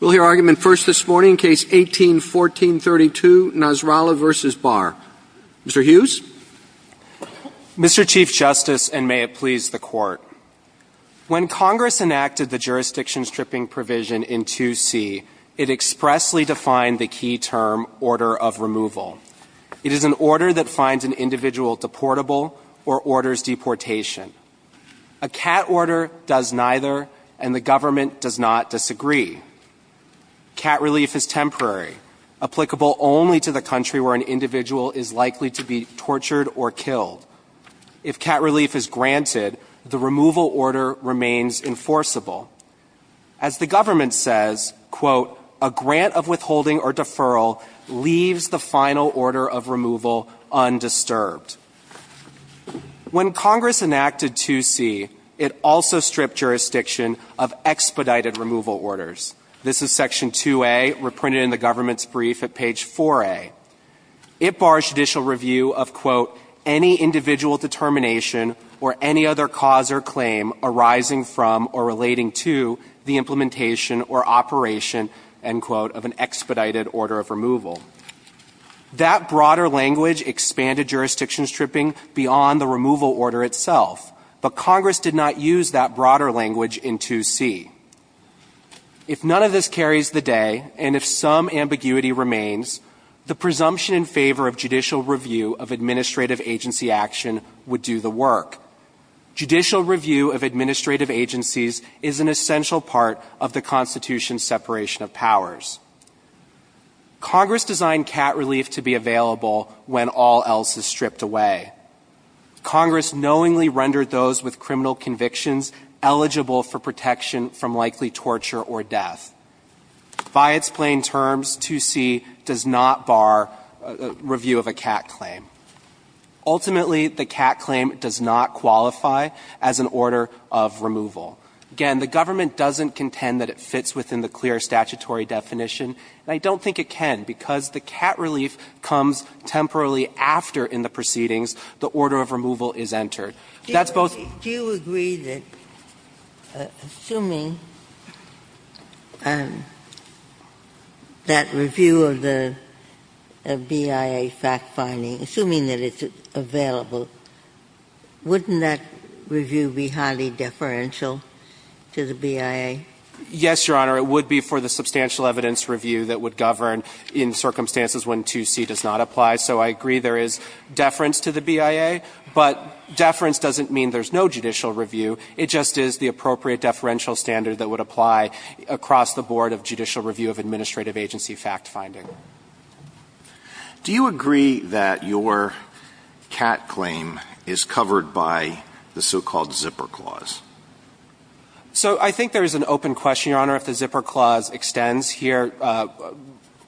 We'll hear argument first this morning, Case 18-1432, Nasrallah v. Barr. Mr. Hughes? Mr. Chief Justice, and may it please the Court, when Congress enacted the jurisdiction-stripping provision in 2C, it expressly defined the key term, order of removal. It is an order that finds an individual deportable or orders deportation. A CAT order does neither, and the government does not disagree. CAT relief is temporary, applicable only to the country where an individual is likely to be tortured or killed. If CAT relief is granted, the removal order remains enforceable. As the government says, a grant of withholding or deferral leaves the final order of removal undisturbed. When Congress enacted 2C, it also stripped jurisdiction of expedited removal orders. This is Section 2A, reprinted in the government's brief at page 4A. It bars judicial review of, quote, any individual determination or any other cause or claim arising from or relating to the implementation or operation, end quote, of an expedited order of removal. That broader language expanded jurisdiction-stripping beyond the removal order itself, but Congress did not use that broader language in 2C. If none of this carries the day, and if some ambiguity remains, the presumption in favor of judicial review of administrative agency action would do the work. Judicial review of administrative agencies is an essential part of the Constitution's separation of powers. Congress designed CAT relief to be available when all else is stripped away. Congress knowingly rendered those with criminal convictions eligible for protection from likely torture or death. By its plain terms, 2C does not bar review of a CAT claim. Ultimately, the CAT claim does not qualify as an order of removal. Again, the government doesn't contend that it fits within the clear statutory definition. And I don't think it can, because the CAT relief comes temporarily after, in the proceedings, the order of removal is entered. That's both of them. Ginsburg. Do you agree that, assuming that review of the BIA fact-finding, assuming that it's available, wouldn't that review be highly deferential to the BIA? Yes, Your Honor. It would be for the substantial evidence review that would govern in circumstances when 2C does not apply. So I agree there is deference to the BIA, but deference doesn't mean there's no judicial review. It just is the appropriate deferential standard that would apply across the board of judicial review of administrative agency fact-finding. Do you agree that your CAT claim is covered by the so-called zipper clause? So I think there is an open question, Your Honor, if the zipper clause extends here.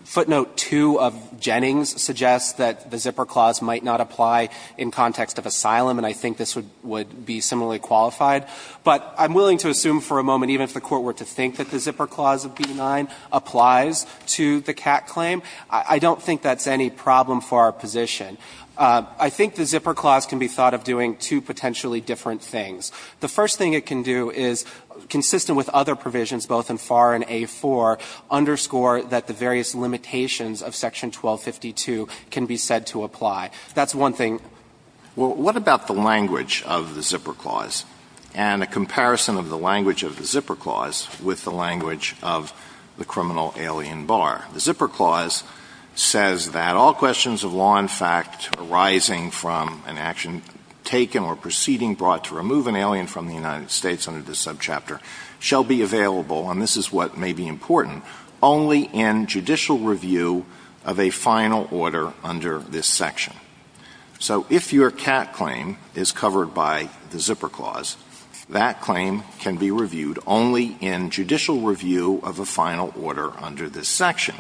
Footnote 2 of Jennings suggests that the zipper clause might not apply in context of asylum, and I think this would be similarly qualified. But I'm willing to assume for a moment, even if the Court were to think that the zipper clause of B-9 applies to the CAT claim, I don't think that's any problem for our position. I think the zipper clause can be thought of doing two potentially different things. The first thing it can do is, consistent with other provisions, both in FAR and A-4, underscore that the various limitations of Section 1252 can be said to apply. That's one thing. Well, what about the language of the zipper clause and a comparison of the language of the zipper clause with the language of the criminal alien bar? The zipper clause says that all questions of law in fact arising from an action taken or proceeding brought to remove an alien from the United States under this subchapter shall be available and this is what may be important, only in judicial review of a final order under this section. So if your CAT claim is covered by the zipper clause, that claim can be reviewed only in judicial review of a final order under this section.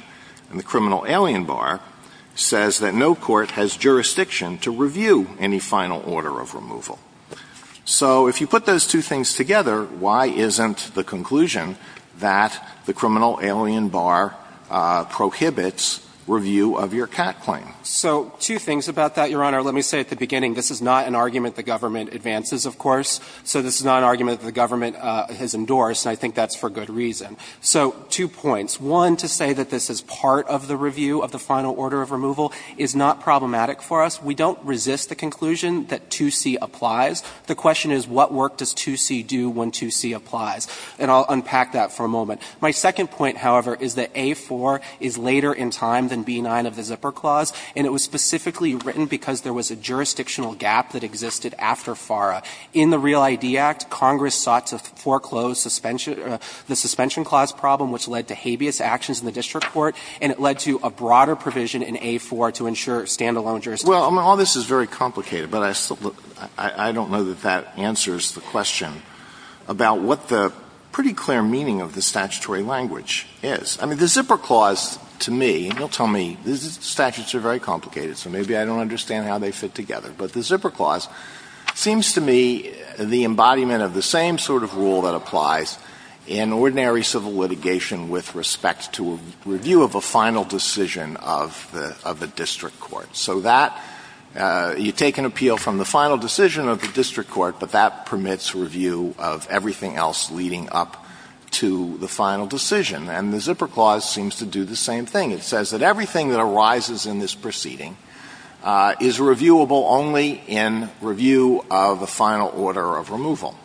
And the criminal alien bar says that no court has jurisdiction to review any final order of removal. So if you put those two things together, why isn't the conclusion that the criminal alien bar prohibits review of your CAT claim? So two things about that, Your Honor. Let me say at the beginning, this is not an argument the government advances, of course. So this is not an argument that the government has endorsed, and I think that's for good reason. So two points. One, to say that this is part of the review of the final order of removal is not problematic for us. We don't resist the conclusion that 2C applies. The question is, what work does 2C do when 2C applies? And I'll unpack that for a moment. My second point, however, is that A-4 is later in time than B-9 of the zipper clause, and it was specifically written because there was a jurisdictional gap that existed after FARA. In the Real ID Act, Congress sought to foreclose the suspension clause problem, which led to habeas actions in the district court, and it led to a broader provision in A-4 to ensure standalone jurisdiction. Alitoson Well, all this is very complicated, but I don't know that that answers the question about what the pretty clear meaning of the statutory language is. The zipper clause, to me, you'll tell me, these statutes are very complicated, so maybe I don't understand how they fit together. But the zipper clause seems to me the embodiment of the same sort of rule that applies in ordinary civil litigation with respect to a review of a final decision of the district court. So you take an appeal from the final decision of the district court, but that permits review of everything else leading up to the final decision. And the zipper clause seems to do the same thing. It says that everything that arises in this proceeding is reviewable only in review of a final order of removal.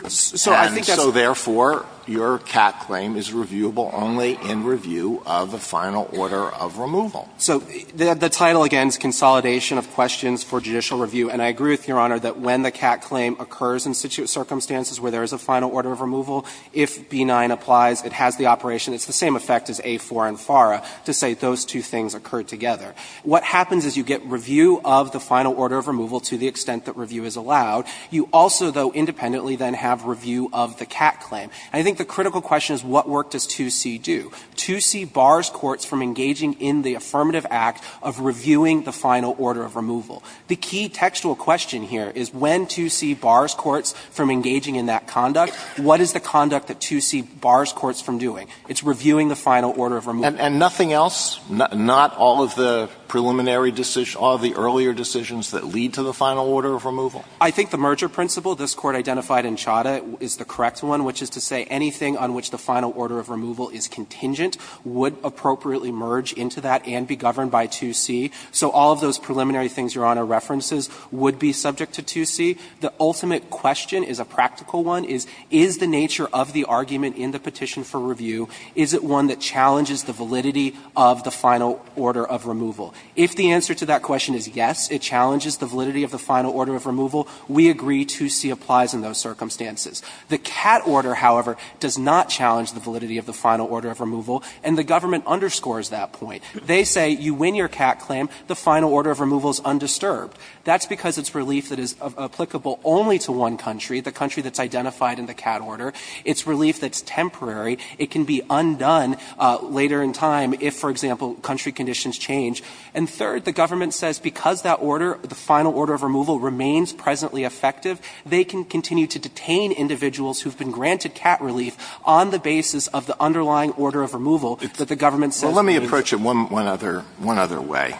And so, therefore, your CAT claim is reviewable only in review of a final order of removal. So the title, again, is Consolidation of Questions for Judicial Review. And I agree with Your Honor that when the CAT claim occurs in such circumstances where there is a final order of removal, if B-9 applies, it has the operation. It's the same effect as A-4 and FARA to say those two things occurred together. What happens is you get review of the final order of removal to the extent that review is allowed. You also, though, independently then have review of the CAT claim. And I think the critical question is what work does 2C do? 2C bars courts from engaging in the affirmative act of reviewing the final order of removal. The key textual question here is when 2C bars courts from engaging in that conduct, what is the conduct that 2C bars courts from doing? It's reviewing the final order of removal. Alitoson And nothing else? Not all of the preliminary decisions, all of the earlier decisions that lead to the final order of removal? Fisher I think the merger principle this Court identified in Chadha is the correct one, which is to say anything on which the final order of removal is contingent would appropriately merge into that and be governed by 2C. So all of those preliminary things Your Honor references would be subject to 2C. The ultimate question is a practical one, is, is the nature of the argument in the petition for review, is it one that challenges the validity of the final order of removal? If the answer to that question is yes, it challenges the validity of the final order of removal, we agree 2C applies in those circumstances. The CAT order, however, does not challenge the validity of the final order of removal, and the government underscores that point. They say you win your CAT claim, the final order of removal is undisturbed. That's because it's relief that is applicable only to one country, the country that's identified in the CAT order. It's relief that's temporary. It can be undone later in time if, for example, country conditions change. And third, the government says because that order, the final order of removal remains presently effective, they can continue to detain individuals who have been granted CAT relief on the basis of the underlying order of removal that the government says means. Alitoson Well, let me approach it one other way.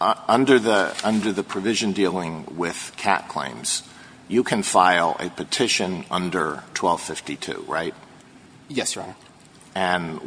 Under the provision dealing with CAT claims, you can file a petition under 1252, right? Fisher Yes, Your Honor. Alitoson And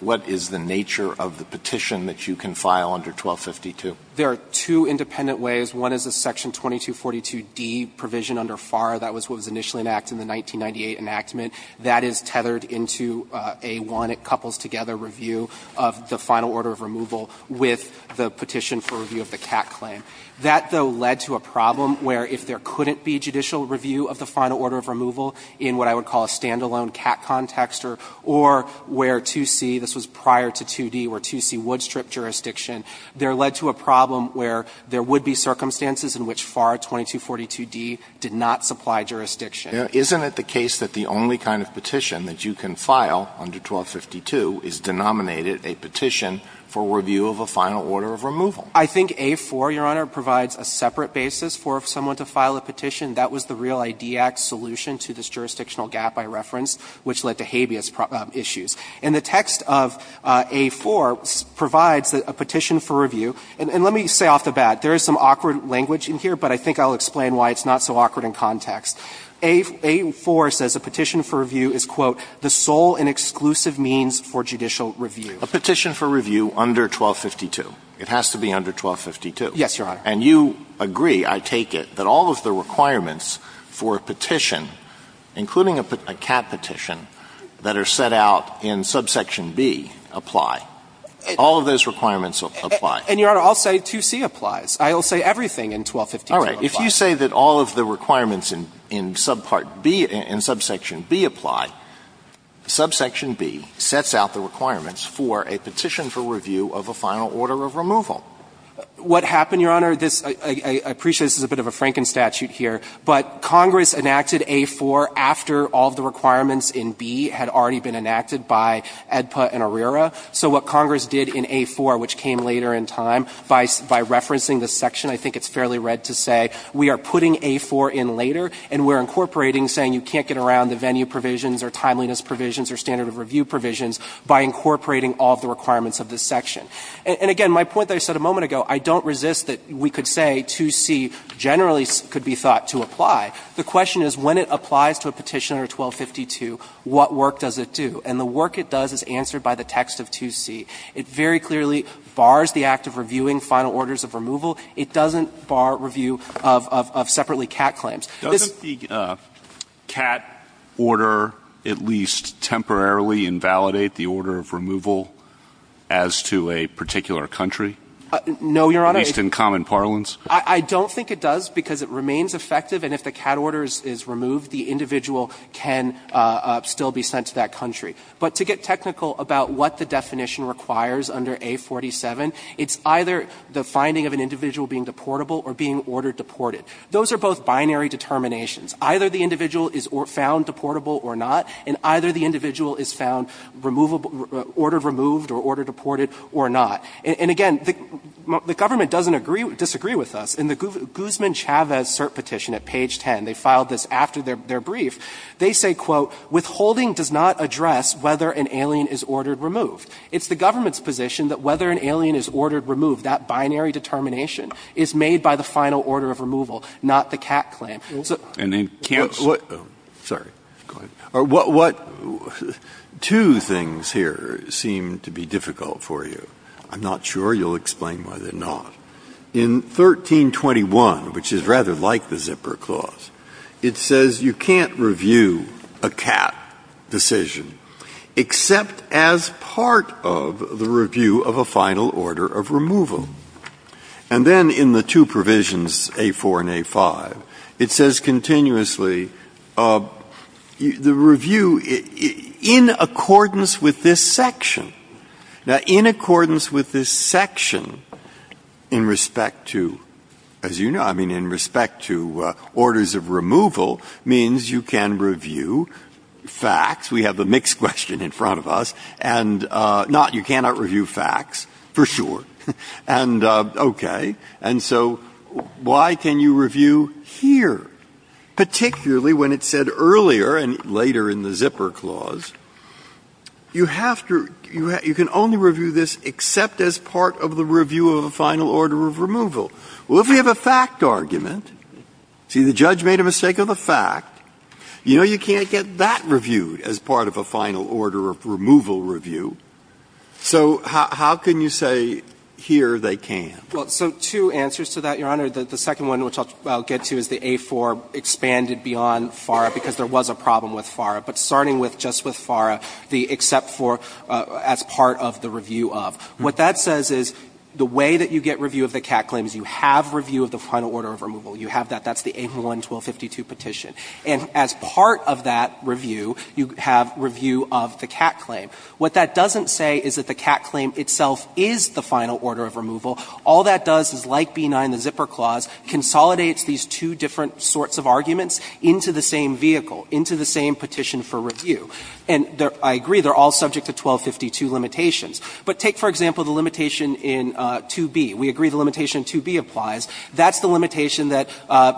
what is the nature of the petition that you can file under 1252? Fisher There are two independent ways. One is a section 2242d provision under FAR that was what was initially enacted in the 1998 enactment. That is tethered into a one-couples-together review of the final order of removal with the petition for review of the CAT claim. That, though, led to a problem where if there couldn't be judicial review of the final order of removal in what I would call a standalone CAT context or where 2C, this was prior to 2D, where 2C would strip jurisdiction, there led to a problem where there would be circumstances in which FAR 2242d did not supply jurisdiction. Alitoson Isn't it the case that the only kind of petition that you can file under 1252 is denominated a petition for review of a final order of removal? Fisher I think A-4, Your Honor, provides a separate basis for someone to file a petition. That was the Real ID Act solution to this jurisdictional gap I referenced, which led to habeas issues. And the text of A-4 provides a petition for review. And let me say off the bat, there is some awkward language in here, but I think I'll explain why it's not so awkward in context. A-4 says a petition for review is, quote, the sole and exclusive means for judicial review. Alitoson A petition for review under 1252. It has to be under 1252. Fisher Yes, Your Honor. Alitoson And you agree, I take it, that all of the requirements for a petition, including a CAT petition, that are set out in subsection B apply. All of those requirements apply. Fisher And, Your Honor, I'll say 2C applies. I'll say everything in 1252 applies. Alitoson If you say that all of the requirements in subpart B and subsection B apply, subsection B sets out the requirements for a petition for review of a final order of removal. Fisher What happened, Your Honor, this – I appreciate this is a bit of a Franken statute here, but Congress enacted A-4 after all of the requirements in B had already been enacted by AEDPA and ARERA. So what Congress did in A-4, which came later in time, by referencing this section, I think it's fairly red to say we are putting A-4 in later and we're incorporating, saying you can't get around the venue provisions or timeliness provisions or standard of review provisions by incorporating all of the requirements of this section. And again, my point that I said a moment ago, I don't resist that we could say 2C generally could be thought to apply. The question is, when it applies to a petition under 1252, what work does it do? And the work it does is answered by the text of 2C. It very clearly bars the act of reviewing final orders of removal. It doesn't bar review of separately cat claims. This – Alito Does the cat order at least temporarily invalidate the order of removal as to a particular country? Fisher No, Your Honor. Alito At least in common parlance? Fisher I don't think it does, because it remains effective, and if the cat order is removed, the individual can still be sent to that country. But to get technical about what the definition requires under A47, it's either the finding of an individual being deportable or being order-deported. Those are both binary determinations. Either the individual is found deportable or not, and either the individual is found order-removed or order-deported or not. And again, the government doesn't agree – disagree with us. In the Guzman-Chavez cert petition at page 10, they filed this after their brief. They say, quote, withholding does not address whether an alien is order-removed. It's the government's position that whether an alien is order-removed, that binary determination, is made by the final order of removal, not the cat claim. Breyer And they can't – Breyer Sorry. Go ahead. What – two things here seem to be difficult for you. I'm not sure you'll explain why they're not. In 1321, which is rather like the Zipper Clause, it says you can't review a cat decision except as part of the review of a final order of removal. And then in the two provisions, A4 and A5, it says continuously the review in accordance with this section. Now, in accordance with this section, in respect to – as you know, I mean, in respect to orders of removal means you can review facts. We have the mixed question in front of us. And not – you cannot review facts, for sure. And okay. And so why can you review here, particularly when it said earlier and later in the You can only review this except as part of the review of a final order of removal. Well, if you have a fact argument, see, the judge made a mistake of a fact, you know you can't get that reviewed as part of a final order of removal review. So how can you say here they can't? So two answers to that, Your Honor. The second one, which I'll get to, is the A4 expanded beyond FARA because there was a problem with FARA. But starting with just with FARA, the except for as part of the review of. What that says is the way that you get review of the Catt claims, you have review of the final order of removal. You have that. That's the A1-1252 petition. And as part of that review, you have review of the Catt claim. What that doesn't say is that the Catt claim itself is the final order of removal. All that does is, like B9, the zipper clause, consolidates these two different sorts of arguments into the same vehicle, into the same petition for review. And I agree, they're all subject to 1252 limitations. But take, for example, the limitation in 2b. We agree the limitation in 2b applies. That's the limitation that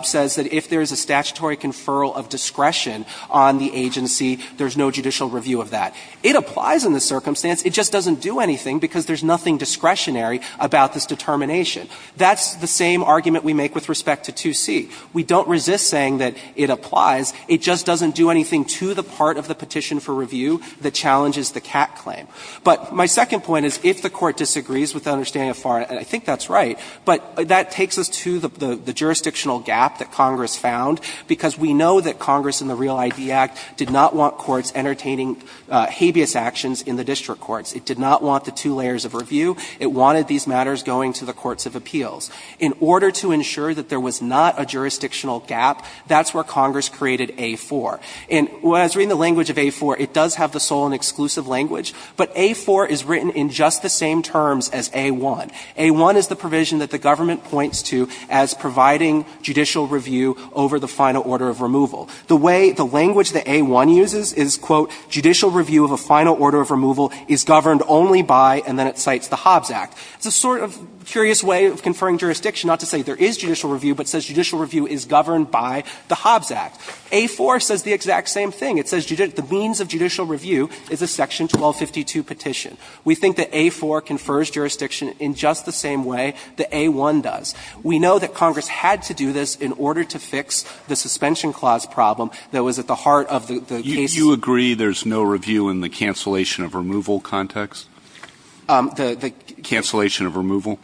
says that if there is a statutory conferral of discretion on the agency, there's no judicial review of that. It applies in this circumstance. It just doesn't do anything because there's nothing discretionary about this determination. That's the same argument we make with respect to 2c. We don't resist saying that it applies. It just doesn't do anything to the part of the petition for review that challenges the Catt claim. But my second point is, if the Court disagrees with the understanding of FARRA, and I think that's right, but that takes us to the jurisdictional gap that Congress found, because we know that Congress in the Real ID Act did not want courts entertaining habeas actions in the district courts. It did not want the two layers of review. It wanted these matters going to the courts of appeals. In order to ensure that there was not a jurisdictional gap, that's where Congress created A-4. And when I was reading the language of A-4, it does have the sole and exclusive language, but A-4 is written in just the same terms as A-1. A-1 is the provision that the government points to as providing judicial review over the final order of removal. The way the language that A-1 uses is, quote, judicial review of a final order of removal is governed only by, and then it cites the Hobbs Act. It's a sort of curious way of conferring jurisdiction, not to say there is judicial review, but it says judicial review is governed by the Hobbs Act. A-4 says the exact same thing. It says the means of judicial review is a Section 1252 petition. We think that A-4 confers jurisdiction in just the same way that A-1 does. We know that Congress had to do this in order to fix the suspension clause problem that was at the heart of the case. Alito, you agree there's no review in the cancellation of removal context? The ---- Cancellation of removal?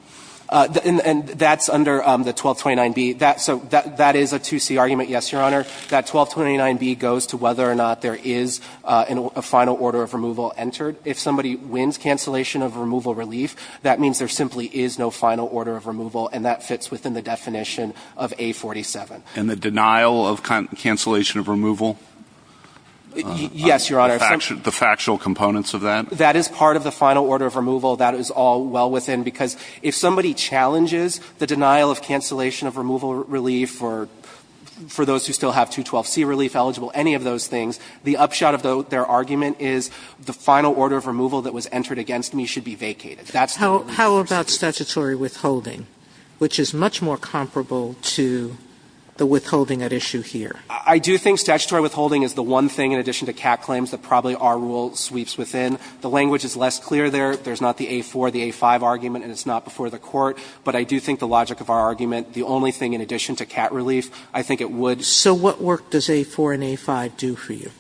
And that's under the 1229B. That's a 2C argument, yes, Your Honor. That 1229B goes to whether or not there is a final order of removal entered. If somebody wins cancellation of removal relief, that means there simply is no final order of removal, and that fits within the definition of A-47. And the denial of cancellation of removal? Yes, Your Honor. The factual components of that? That is part of the final order of removal. That is all well within, because if somebody challenges the denial of cancellation of removal relief for those who still have 212C relief eligible, any of those things, the upshot of their argument is the final order of removal that was entered against me should be vacated. That's the rule. How about statutory withholding, which is much more comparable to the withholding at issue here? I do think statutory withholding is the one thing, in addition to cat claims, that the language is less clear there. There's not the A-4, the A-5 argument, and it's not before the Court. But I do think the logic of our argument, the only thing in addition to cat relief, I think it would. So what work does A-4 and A-5 do for you?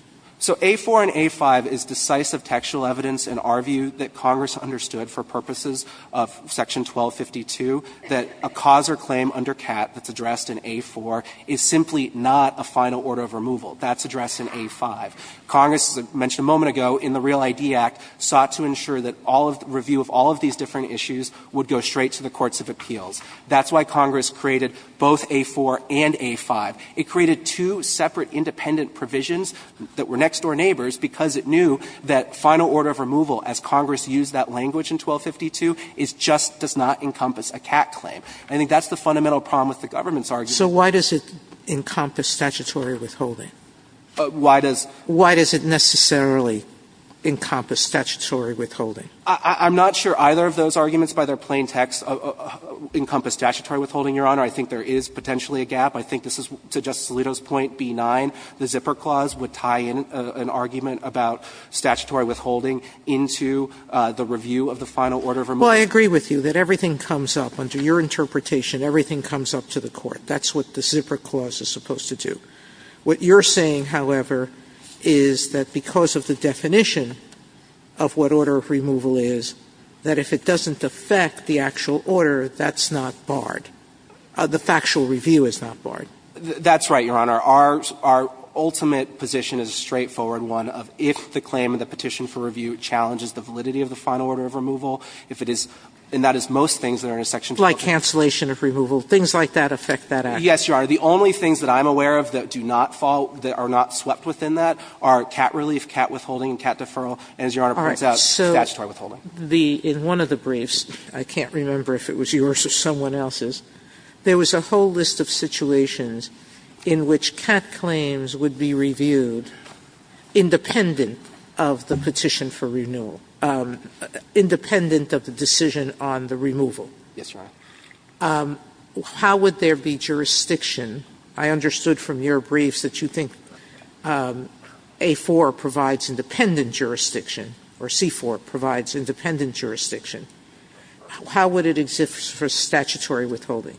So A-4 and A-5 is decisive textual evidence in our view that Congress understood for purposes of Section 1252, that a cause or claim under cat that's addressed in A-4 is simply not a final order of removal. That's addressed in A-5. Congress, as I mentioned a moment ago, in the Real ID Act, sought to ensure that all of the review of all of these different issues would go straight to the courts of appeals. That's why Congress created both A-4 and A-5. It created two separate independent provisions that were next-door neighbors because it knew that final order of removal, as Congress used that language in 1252, just does not encompass a cat claim. I think that's the fundamental problem with the government's argument. Sotomayor So why does it encompass statutory withholding? Why does it necessarily encompass statutory withholding? I'm not sure either of those arguments, by their plain text, encompass statutory withholding, Your Honor. I think there is potentially a gap. I think this is, to Justice Alito's point, B-9, the zipper clause would tie in an argument about statutory withholding into the review of the final order of removal. Well, I agree with you that everything comes up, under your interpretation, everything comes up to the court. That's what the zipper clause is supposed to do. What you're saying, however, is that because of the definition of what order of removal is, that if it doesn't affect the actual order, that's not barred. The factual review is not barred. That's right, Your Honor. Our ultimate position is a straightforward one of if the claim of the petition for review challenges the validity of the final order of removal, if it is and that is most things that are in a section 124. Like cancellation of removal, things like that affect that action. Yes, Your Honor. The only things that I'm aware of that do not fall, that are not swept within that are cat relief, cat withholding, and cat deferral. And as Your Honor points out, statutory withholding. In one of the briefs, I can't remember if it was yours or someone else's, there was a whole list of situations in which cat claims would be reviewed independent of the petition for renewal, independent of the decision on the removal. Yes, Your Honor. How would there be jurisdiction? I understood from your briefs that you think A-4 provides independent jurisdiction or C-4 provides independent jurisdiction. How would it exist for statutory withholding?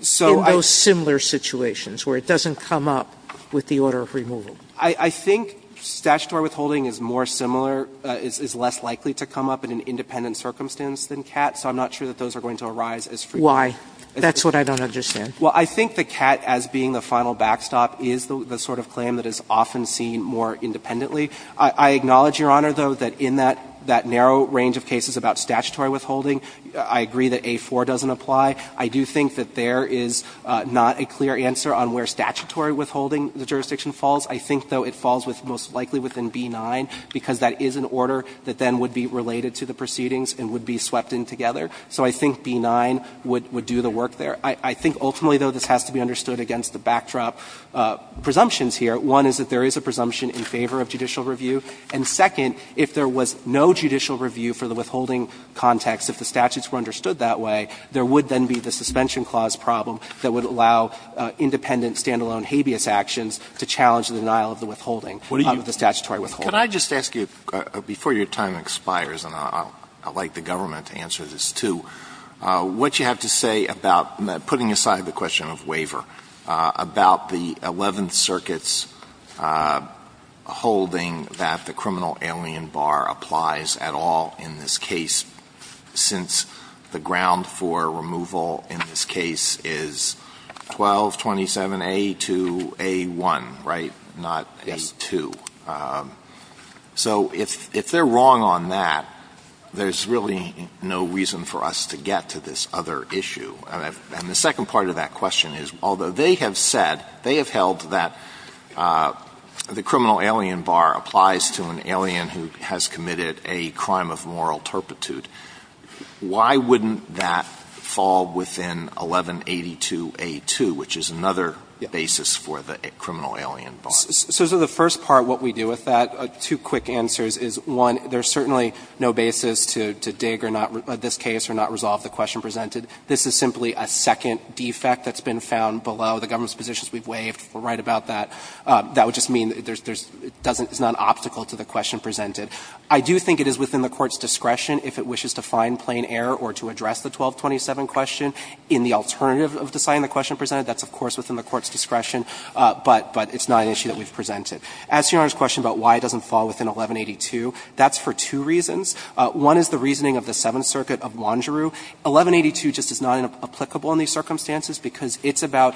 So in those similar situations where it doesn't come up with the order of removal? I think statutory withholding is more similar, is less likely to come up in an independent circumstance than cat, so I'm not sure that those are going to arise as frequent. Why? That's what I don't understand. Well, I think the cat as being the final backstop is the sort of claim that is often seen more independently. I acknowledge, Your Honor, though, that in that narrow range of cases about statutory withholding, I agree that A-4 doesn't apply. I do think that there is not a clear answer on where statutory withholding the jurisdiction falls. I think, though, it falls with most likely within B-9, because that is an order that then would be related to the proceedings and would be swept in together. So I think B-9 would do the work there. I think ultimately, though, this has to be understood against the backdrop presumptions here. One is that there is a presumption in favor of judicial review, and second, if there was no judicial review for the withholding context, if the statutes were understood that way, there would then be the suspension clause problem that would allow independent standalone habeas actions to challenge the denial of the withholding, of the statutory withholding. Alitoson Can I just ask you, before your time expires, and I would like the government to answer this, too, what you have to say about putting aside the question of waiver, about the Eleventh Circuit's holding that the criminal alien bar applies at all in this case, since the ground for removal in this case is 1227A to A-1, right, not A-2. So if they're wrong on that, there's really no reason for us to get to this other issue. And the second part of that question is, although they have said, they have held that the criminal alien bar applies to an alien who has committed a crime of moral turpitude, why wouldn't that fall within 1182A-2, which is another basis for the criminal alien bar? So the first part, what we do with that, two quick answers is, one, there's certainly no basis to dig or not, in this case, or not resolve the question presented. This is simply a second defect that's been found below the government's positions we've waived. We're right about that. That would just mean it doesn't, it's not an obstacle to the question presented. I do think it is within the Court's discretion, if it wishes to find plain error or to address the 1227 question, in the alternative of deciding the question presented. That's, of course, within the Court's discretion, but it's not an issue that we've presented. As to Your Honor's question about why it doesn't fall within 1182, that's for two reasons. One is the reasoning of the Seventh Circuit of Wanderoo. 1182 just is not applicable in these circumstances because it's about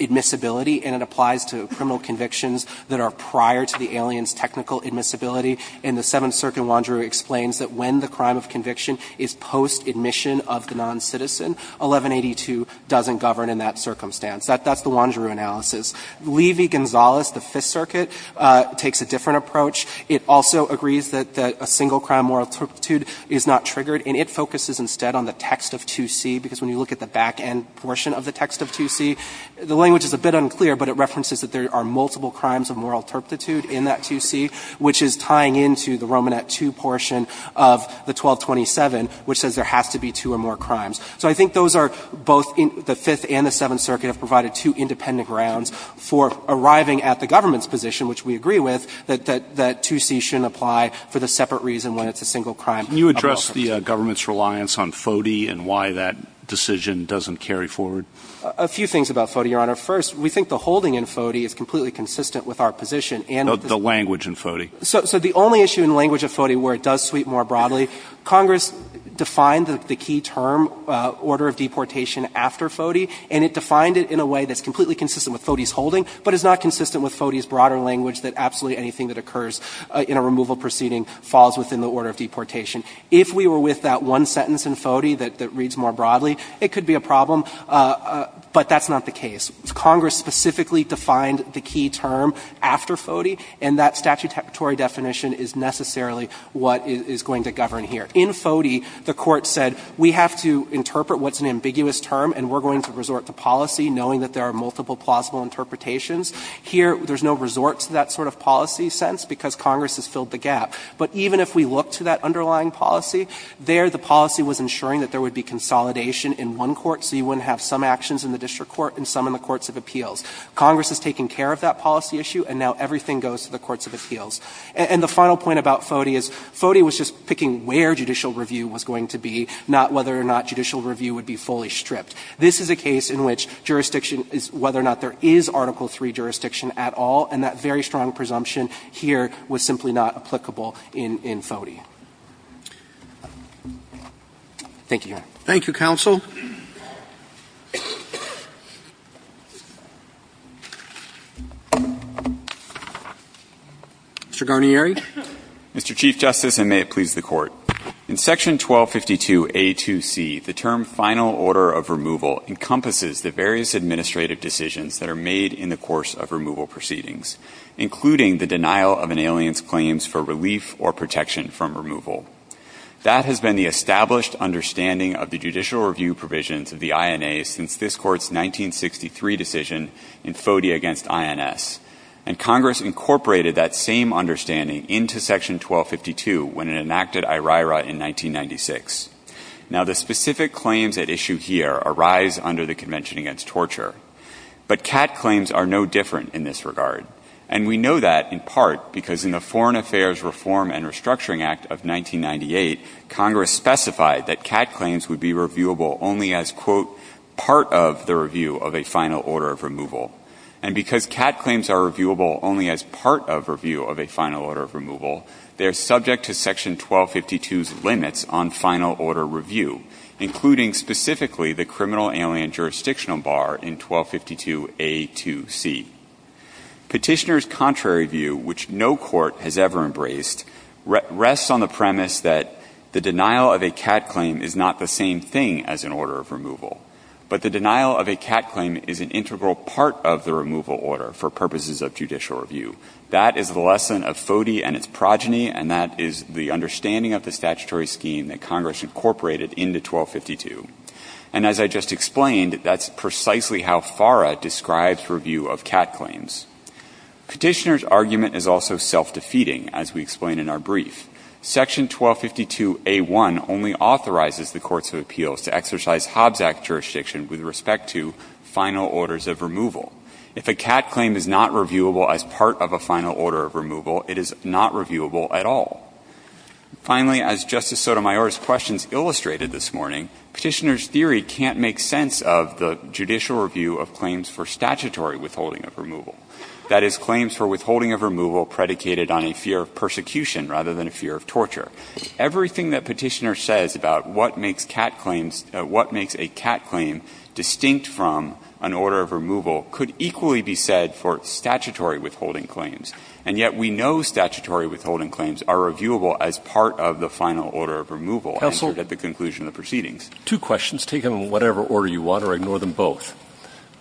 admissibility and it applies to criminal convictions that are prior to the alien's technical admissibility. And the Seventh Circuit of Wanderoo explains that when the crime of conviction is post-admission of the noncitizen, 1182 doesn't govern in that circumstance. That's the Wanderoo analysis. Levy-Gonzalez, the Fifth Circuit, takes a different approach. It also agrees that a single-crime moral turpitude is not triggered, and it focuses instead on the text of 2C, because when you look at the back-end portion of the text of 2C, the language is a bit unclear, but it references that there are multiple crimes of moral turpitude in that 2C, which is tying into the Romanet II portion of the 1227, which says there has to be two or more crimes. So I think those are both the Fifth and the Seventh Circuit have provided two independent grounds for arriving at the government's position, which we agree with, that 2C shouldn't apply for the separate reason when it's a single-crime moral turpitude. Can you address the government's reliance on FODE and why that decision doesn't carry forward? A few things about FODE, Your Honor. First, we think the holding in FODE is completely consistent with our position and the language in FODE. So the only issue in the language of FODE where it does sweep more broadly, Congress defined the key term, order of deportation, after FODE, and it defined it in a way that's completely consistent with FODE's holding, but is not consistent with FODE's broader language that absolutely anything that occurs in a removal proceeding falls within the order of deportation. If we were with that one sentence in FODE that reads more broadly, it could be a problem, but that's not the case. Congress specifically defined the key term after FODE, and that statutory definition is necessarily what is going to govern here. In FODE, the Court said we have to interpret what's an ambiguous term and we're going to resort to policy, knowing that there are multiple plausible interpretations. Here, there's no resort to that sort of policy sentence because Congress has filled the gap. But even if we look to that underlying policy, there the policy was ensuring that there would be consolidation in one court, so you wouldn't have some actions in the district court and some in the courts of appeals. Congress has taken care of that policy issue, and now everything goes to the courts of appeals. And the final point about FODE is FODE was just picking where judicial review was going to be, not whether or not judicial review would be fully stripped. This is a case in which jurisdiction is whether or not there is Article III jurisdiction at all, and that very strong presumption here was simply not applicable in FODE. Thank you, Your Honor. Roberts. Thank you, counsel. Mr. Garnieri. Mr. Chief Justice, and may it please the Court. In Section 1252A2C, the term final order of removal encompasses the various administrative decisions that are made in the course of removal proceedings, including the denial of an alien's claims for relief or protection from removal. That has been the established understanding of the judicial review provisions of the INA since this Court's 1963 decision in FODE against INS, and Congress incorporated that same understanding into Section 1252 when it enacted IRIRA in 1996. Now, the specific claims at issue here arise under the Convention Against Torture, but CAT claims are no different in this regard, and we know that in part because in the Foreign Affairs Reform and Restructuring Act of 1998, Congress specified that CAT claims would be reviewable only as, quote, part of the review of a final order of removal. And because CAT claims are reviewable only as part of review of a final order of removal, they are subject to Section 1252's limits on final order review, including specifically the criminal alien jurisdictional bar in 1252A2C. Petitioner's contrary view, which no court has ever embraced, rests on the premise that the denial of a CAT claim is not the same thing as an order of removal, but the denial of a CAT claim is an integral part of the removal order for purposes of judicial review. That is the lesson of FODE and its progeny, and that is the understanding of the statutory scheme that Congress incorporated into 1252. And as I just explained, that's precisely how FARA describes review of CAT claims. Petitioner's argument is also self-defeating, as we explain in our brief. Section 1252A1 only authorizes the courts of appeals to exercise Hobbs Act jurisdiction with respect to final orders of removal. If a CAT claim is not reviewable as part of a final order of removal, it is not reviewable at all. Finally, as Justice Sotomayor's questions illustrated this morning, Petitioner's theory can't make sense of the judicial review of claims for statutory withholding of removal. That is, claims for withholding of removal predicated on a fear of persecution rather than a fear of torture. Everything that Petitioner says about what makes CAT claims – what makes a CAT claim distinct from an order of removal could equally be said for statutory withholding claims. And yet we know statutory withholding claims are reviewable as part of the final order of removal answered at the conclusion of the proceedings. Two questions. Take them in whatever order you want or ignore them both.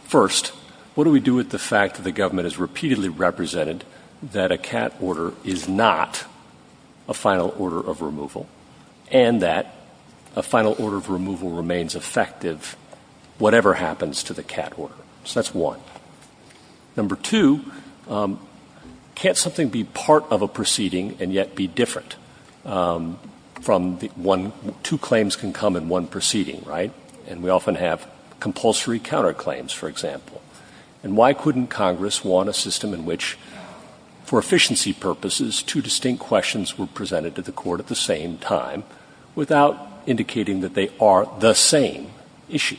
First, what do we do with the fact that the government has repeatedly represented that a CAT order is not a final order of removal and that a final order of removal remains effective whatever happens to the CAT order? So that's one. Number two, can't something be part of a proceeding and yet be different from the one – two claims can come in one proceeding, right? And we often have compulsory counterclaims, for example. And why couldn't Congress want a system in which, for efficiency purposes, two distinct questions were presented to the Court at the same time without indicating that they are the same issue?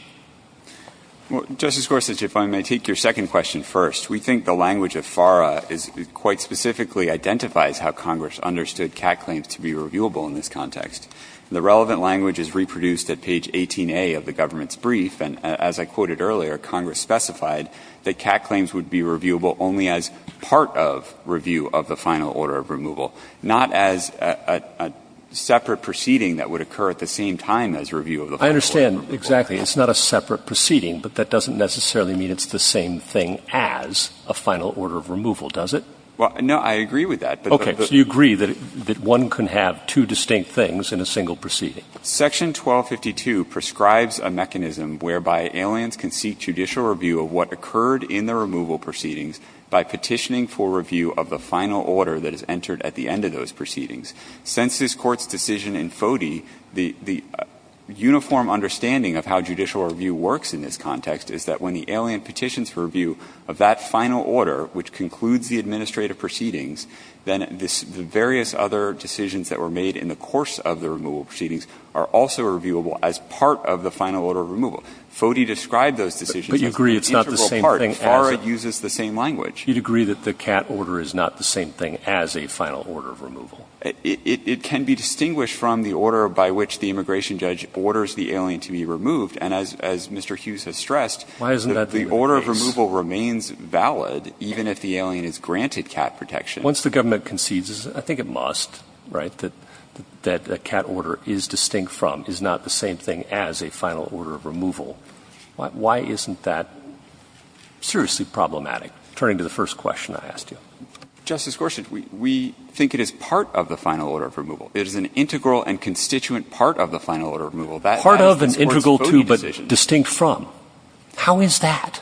Justice Gorsuch, if I may take your second question first. We think the language of FARA is – quite specifically identifies how Congress understood CAT claims to be reviewable in this context. The relevant language is reproduced at page 18A of the government's brief, and as I quoted earlier, Congress specified that CAT claims would be reviewable only as part of review of the final order of removal, not as a separate proceeding that would occur at the same time as review of the final order of removal. I understand. Exactly. It's not a separate proceeding, but that doesn't necessarily mean it's the same thing as a final order of removal, does it? Well, no, I agree with that. Okay. So you agree that one can have two distinct things in a single proceeding? Section 1252 prescribes a mechanism whereby aliens can seek judicial review of what occurred in the removal proceedings by petitioning for review of the final order that is entered at the end of those proceedings. Since this Court's decision in FODE, the – the uniform understanding of how judicial review works in this context is that when the alien petitions for review of that final order, which concludes the administrative proceedings, then this – the various other decisions that were made in the course of the removal proceedings are also reviewable as part of the final order of removal. FODE described those decisions as an integral part. But you agree it's not the same thing as – FARA uses the same language. You'd agree that the CAT order is not the same thing as a final order of removal? It – it can be distinguished from the order by which the immigration judge orders the alien to be removed. And as – as Mr. Hughes has stressed, the order of removal remains valid even if the alien is granted CAT protection. Once the government concedes, I think it must, right, that – that a CAT order is distinct from, is not the same thing as a final order of removal, why isn't that seriously problematic? Turning to the first question I asked you. Justice Gorsuch, we – we think it is part of the final order of removal. It is an integral and constituent part of the final order of removal. That – that is the Court's FODE decision. Part of and integral to but distinct from. How is that?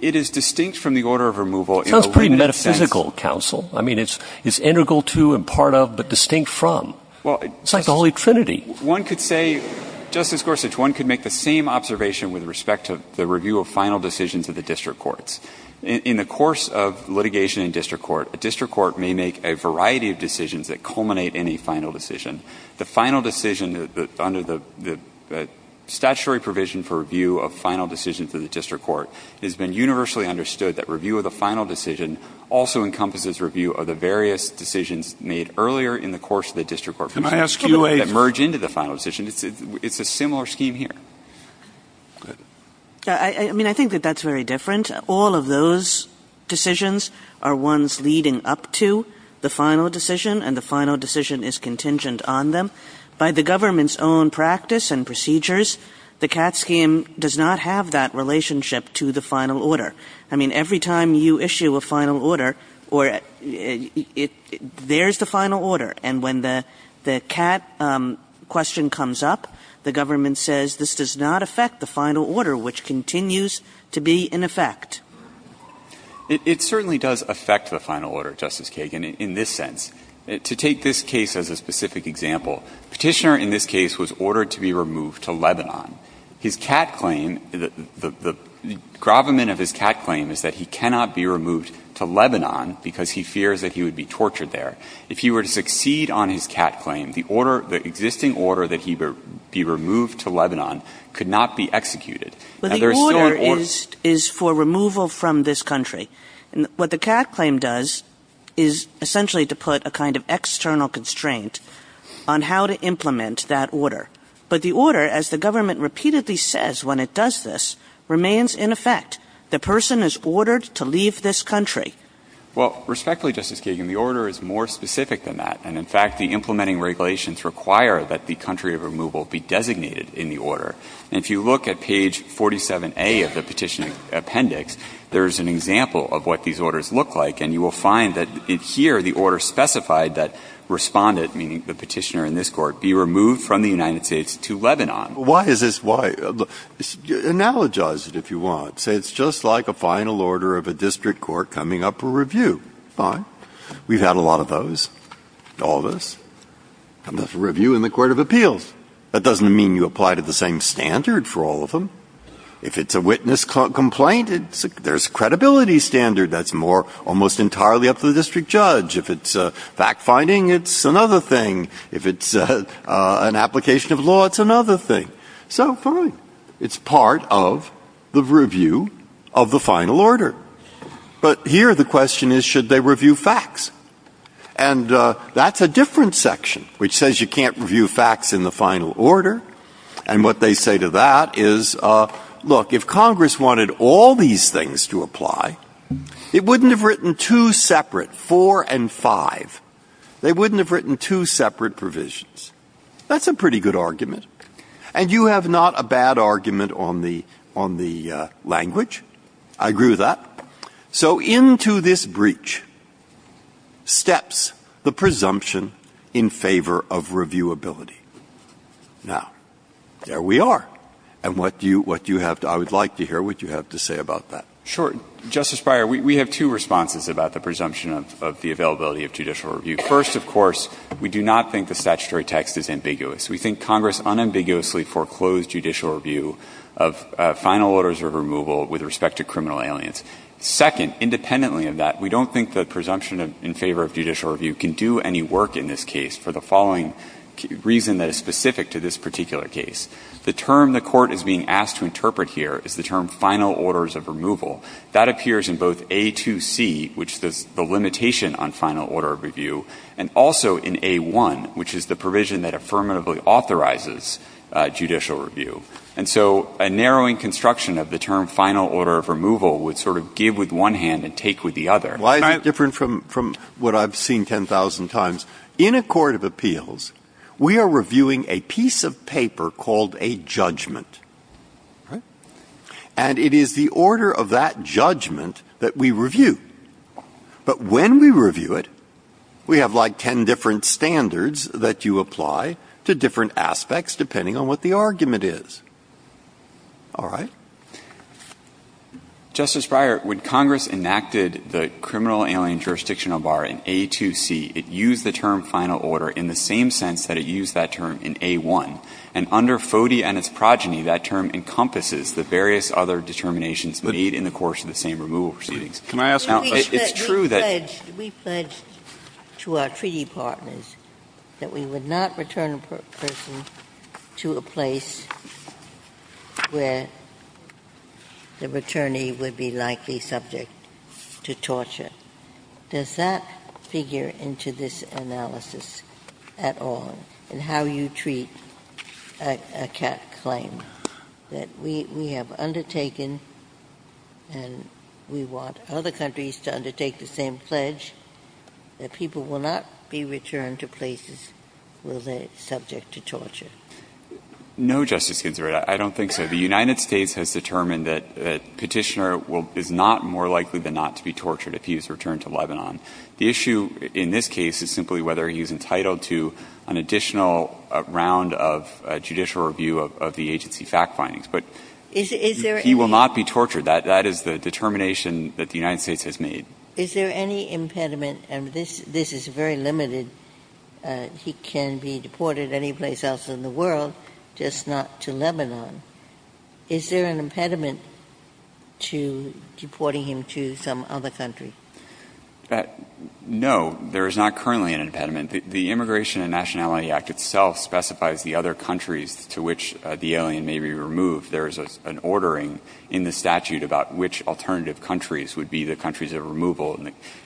It is distinct from the order of removal in a limited sense. It sounds pretty metaphysical, counsel. I mean, it's – it's integral to and part of but distinct from. Well, it's – It's like the Holy Trinity. One could say, Justice Gorsuch, one could make the same observation with respect to the review of final decisions of the district courts. In the course of litigation in district court, a district court may make a variety of decisions that culminate in a final decision. The final decision under the – the statutory provision for review of final decisions of the district court, it has been universally understood that review of the final decision also encompasses review of the various decisions made earlier in the course of the district court. Can I ask you a – That merge into the final decision. It's a similar scheme here. I mean, I think that that's very different. All of those decisions are ones leading up to the final decision and the final decision is contingent on them. By the government's own practice and procedures, the CAT scheme does not have that relationship to the final order. I mean, every time you issue a final order or – there's the final order. And when the CAT question comes up, the government says, this does not affect the It certainly does affect the final order, Justice Kagan, in this sense. To take this case as a specific example, Petitioner in this case was ordered to be removed to Lebanon. His CAT claim, the gravamen of his CAT claim is that he cannot be removed to Lebanon because he fears that he would be tortured there. If he were to succeed on his CAT claim, the existing order that he be removed to Lebanon could not be executed. But the order is for removal from this country. And what the CAT claim does is essentially to put a kind of external constraint on how to implement that order. But the order, as the government repeatedly says when it does this, remains in effect. The person is ordered to leave this country. Well, respectfully, Justice Kagan, the order is more specific than that. And, in fact, the implementing regulations require that the country of removal be designated in the order. And if you look at page 47A of the Petitioner Appendix, there is an example of what these orders look like. And you will find that here the order specified that Respondent, meaning the Petitioner in this Court, be removed from the United States to Lebanon. Breyer. Why is this? Why? Analogize it, if you want. Say it's just like a final order of a district court coming up for review. Fine. That doesn't mean you apply to the same standard for all of them. If it's a witness complaint, there's a credibility standard that's more almost entirely up to the district judge. If it's fact-finding, it's another thing. If it's an application of law, it's another thing. So fine. It's part of the review of the final order. But here the question is, should they review facts? And that's a different section, which says you can't review facts in the final order. And what they say to that is, look, if Congress wanted all these things to apply, it wouldn't have written two separate, four and five. They wouldn't have written two separate provisions. That's a pretty good argument. And you have not a bad argument on the language. I agree with that. So into this breach steps the presumption in favor of reviewability. Now, there we are. And what do you have to – I would like to hear what you have to say about that. MR. BARROWS. Sure. Justice Breyer, we have two responses about the presumption of the availability of judicial review. First, of course, we do not think the statutory text is ambiguous. We think Congress unambiguously foreclosed judicial review of final orders of removal with respect to criminal aliens. Second, independently of that, we don't think the presumption in favor of judicial review can do any work in this case for the following reason that is specific to this particular case. The term the Court is being asked to interpret here is the term final orders of removal. That appears in both A2C, which is the limitation on final order of review, and also in A1, which is the provision that affirmatively authorizes judicial review. And so a narrowing construction of the term final order of removal would sort of give with one hand and take with the other. Breyer. Why is it different from what I've seen 10,000 times? In a court of appeals, we are reviewing a piece of paper called a judgment. And it is the order of that judgment that we review. But when we review it, we have like 10 different standards that you apply to different aspects, depending on what the argument is. All right? Justice Breyer, when Congress enacted the criminal alien jurisdictional bar in A2C, it used the term final order in the same sense that it used that term in A1. And under FODE and its progeny, that term encompasses the various other determinations made in the course of the same removal proceedings. Now, it's true that we pledged to our treaty partners that we would not return a person to a place where the returnee would be likely subject to torture. Does that figure into this analysis at all in how you treat a CAC claim that we have undertaken and we want other countries to undertake the same pledge, that people will not be returned to places where they are subject to torture? No, Justice Ginsburg. I don't think so. The United States has determined that Petitioner is not more likely than not to be tortured if he is returned to Lebanon. The issue in this case is simply whether he is entitled to an additional round of judicial review of the agency fact findings. But he will not be tortured. That is the determination that the United States has made. Is there any impediment, and this is very limited, he can be deported anyplace else in the world, just not to Lebanon. Is there an impediment to deporting him to some other country? No. There is not currently an impediment. The Immigration and Nationality Act itself specifies the other countries to which the alien may be removed. There is an ordering in the statute about which alternative countries would be the country of removal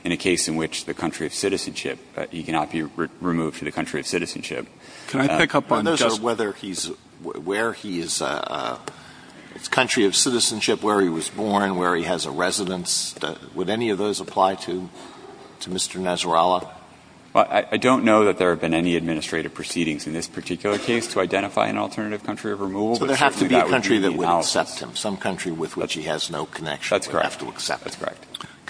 in a case in which the country of citizenship, he cannot be removed to the country of citizenship. Can I pick up on just one? Those are whether he's, where he is a country of citizenship, where he was born, where he has a residence. Would any of those apply to Mr. Nasrallah? I don't know that there have been any administrative proceedings in this particular case to identify an alternative country of removal. So there has to be a country that would accept him, some country with which he has no connection would have to accept him. That's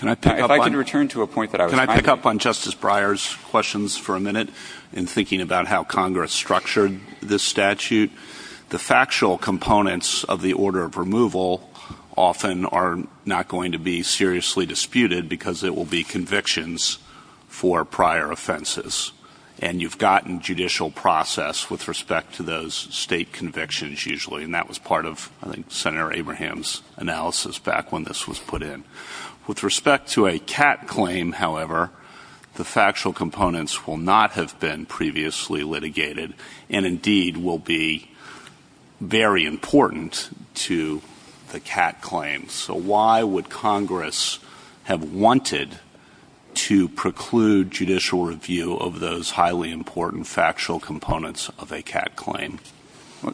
correct. If I could return to a point that I was trying to make. Can I pick up on Justice Breyer's questions for a minute in thinking about how Congress structured this statute? The factual components of the order of removal often are not going to be seriously disputed because it will be convictions for prior offenses. And you've gotten judicial process with respect to those state convictions usually. And that was part of, I think, Senator Abraham's analysis back when this was put in. With respect to a CAT claim, however, the factual components will not have been previously litigated and indeed will be very important to the CAT claim. So why would Congress have wanted to preclude judicial review of those highly important factual components of a CAT claim?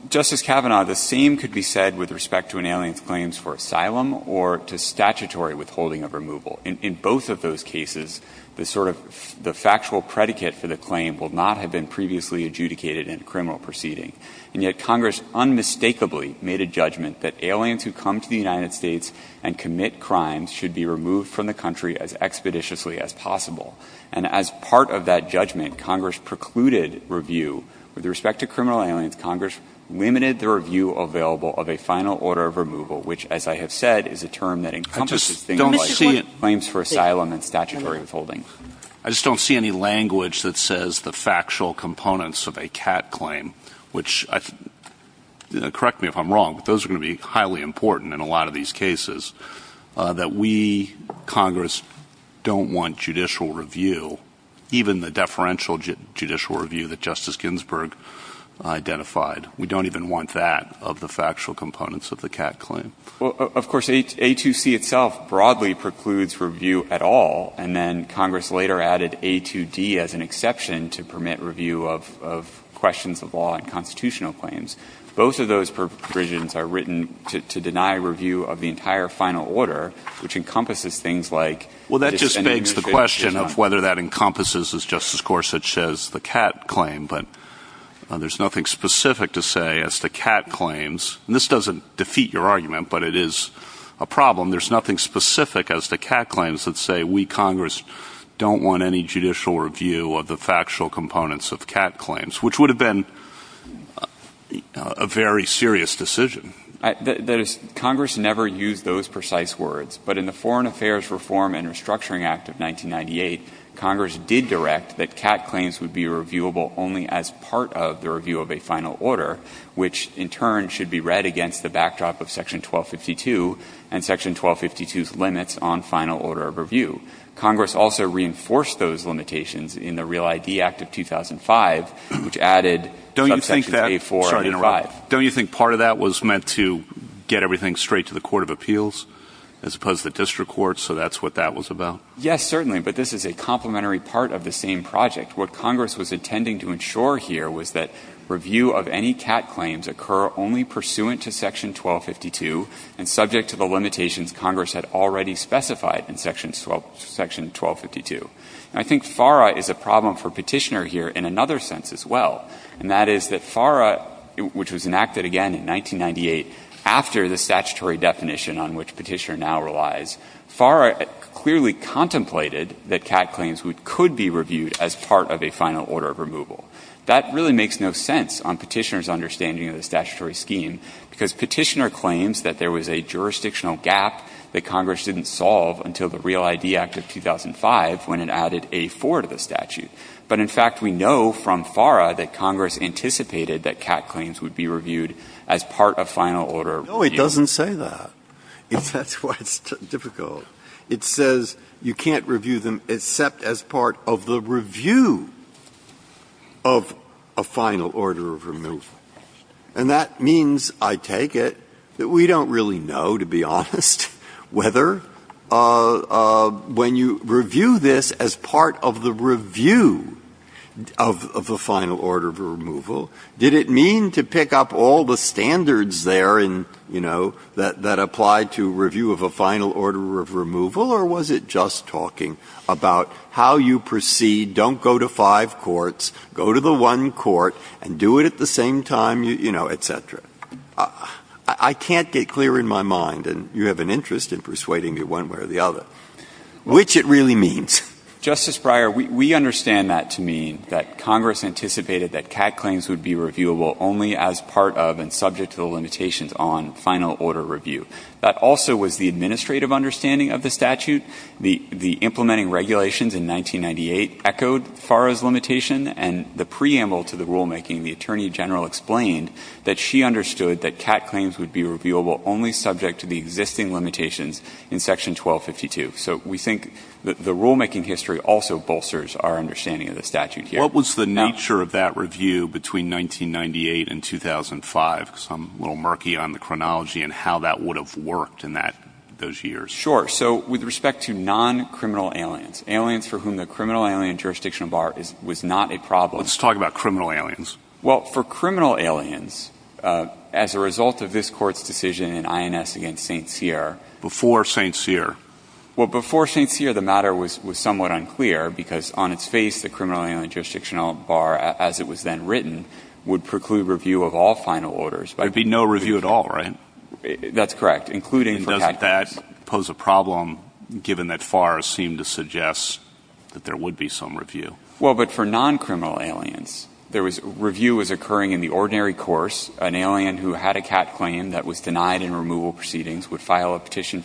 Justice Kavanaugh, the same could be said with respect to inalienable claims for asylum or to statutory withholding of removal. In both of those cases, the sort of the factual predicate for the claim will not have been previously adjudicated in a criminal proceeding. And yet Congress unmistakably made a judgment that aliens who come to the United States and commit crimes should be removed from the country as expeditiously as possible. And as part of that judgment, Congress precluded review. With respect to criminal aliens, Congress limited the review available of a final order of removal, which, as I have said, is a term that encompasses things like claims for asylum and statutory withholding. I just don't see any language that says the factual components of a CAT claim, which correct me if I'm wrong, but those are going to be highly important in a lot of these cases, that we, Congress, don't want judicial review, even the deferential judicial review that Justice Ginsburg identified. We don't even want that of the factual components of the CAT claim. Well, of course, A2C itself broadly precludes review at all. And then Congress later added A2D as an exception to permit review of questions of law and constitutional claims. Both of those provisions are written to deny review of the entire final order, which encompasses things like dissent and negotiation. Well, that just begs the question of whether that encompasses, as Justice Gorsuch says, the CAT claim. But there's nothing specific to say as to CAT claims. And this doesn't defeat your argument, but it is a problem. There's nothing specific as to CAT claims that say we, Congress, don't want any judicial review of the factual components of CAT claims, which would have been a very serious decision. That is, Congress never used those precise words. But in the Foreign Affairs Reform and Restructuring Act of 1998, Congress did direct that CAT claims would be reviewable only as part of the review of a final order, which, in turn, should be read against the backdrop of Section 1252 and Section 1252's limits on final order of review. Congress also reinforced those limitations in the Real ID Act of 2005, which added subsections A4 and A5. Don't you think part of that was meant to get everything straight to the Court of Appeals as opposed to the district courts? So that's what that was about? Yes, certainly. But this is a complementary part of the same project. What Congress was intending to ensure here was that review of any CAT claims occur only pursuant to Section 1252 and subject to the limitations Congress had already specified in Section 1252. And I think FARA is a problem for Petitioner here in another sense as well, and that is that FARA, which was enacted again in 1998 after the statutory definition on which Petitioner now relies, FARA clearly contemplated that CAT claims could be reviewed as part of a final order of removal. That really makes no sense on Petitioner's understanding of the statutory scheme, because Petitioner claims that there was a jurisdictional gap that Congress didn't solve until the Real ID Act of 2005 when it added A4 to the statute. But, in fact, we know from FARA that Congress anticipated that CAT claims would be reviewed as part of final order of review. Breyer. No, it doesn't say that. That's why it's difficult. It says you can't review them except as part of the review of a final order of removal. And that means, I take it, that we don't really know, to be honest, whether when you review this as part of the review of the final order of removal, did it mean to pick up all the standards there in, you know, that apply to review of a final order of removal, or was it just talking about how you proceed, don't go to five courts, go to the one court, and do it at the same time, you know, et cetera? I can't get clear in my mind, and you have an interest in persuading me one way or the other, which it really means. Justice Breyer, we understand that to mean that Congress anticipated that CAT claims would be reviewable only as part of and subject to the limitations on final order review. That also was the administrative understanding of the statute. The implementing regulations in 1998 echoed FARA's limitation, and the preamble to the rulemaking, the Attorney General explained that she understood that CAT claims would be reviewable only subject to the existing limitations in section 1252. So we think the rulemaking history also bolsters our understanding of the statute here. What was the nature of that review between 1998 and 2005? Because I'm a little murky on the chronology and how that would have worked in that, those years. Sure. So with respect to non-criminal aliens, aliens for whom the criminal alien jurisdictional bar is, was not a problem. Let's talk about criminal aliens. Well, for criminal aliens, as a result of this court's decision in INS against St. Cyr. Well, before St. Cyr, the matter was, was somewhat unclear because on its face, the criminal alien jurisdictional bar, as it was then written, would preclude review of all final orders. There'd be no review at all, right? That's correct. Including for CAT claims. Doesn't that pose a problem, given that FARA seemed to suggest that there would be some review? Well, but for non-criminal aliens, there was, review was occurring in the ordinary course. An alien who had a CAT claim that was denied in removal proceedings would file a petition,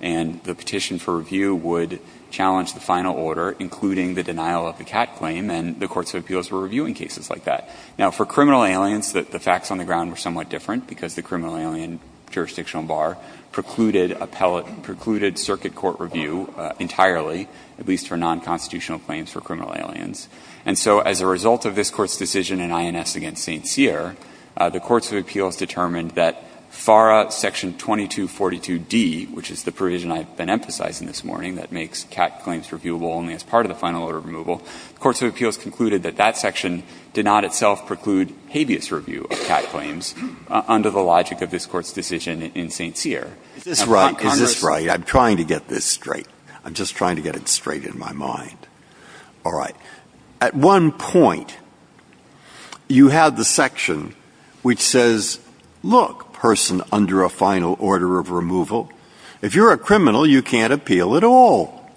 and the petition for review would challenge the final order, including the denial of the CAT claim, and the courts of appeals were reviewing cases like that. Now, for criminal aliens, the facts on the ground were somewhat different, because the criminal alien jurisdictional bar precluded circuit court review entirely, at least for non-constitutional claims for criminal aliens. And so as a result of this court's decision in INS against St. Cyr, the courts of appeals determined that FARA section 2242d, which is the provision I've been emphasizing this morning that makes CAT claims reviewable only as part of the final order removal, the courts of appeals concluded that that section did not itself preclude habeas review of CAT claims under the logic of this Court's decision in St. Cyr. Is this right? I'm trying to get this straight. I'm just trying to get it straight in my mind. All right. At one point, you had the section which says, look, person under a final order of removal, if you're a criminal, you can't appeal at all.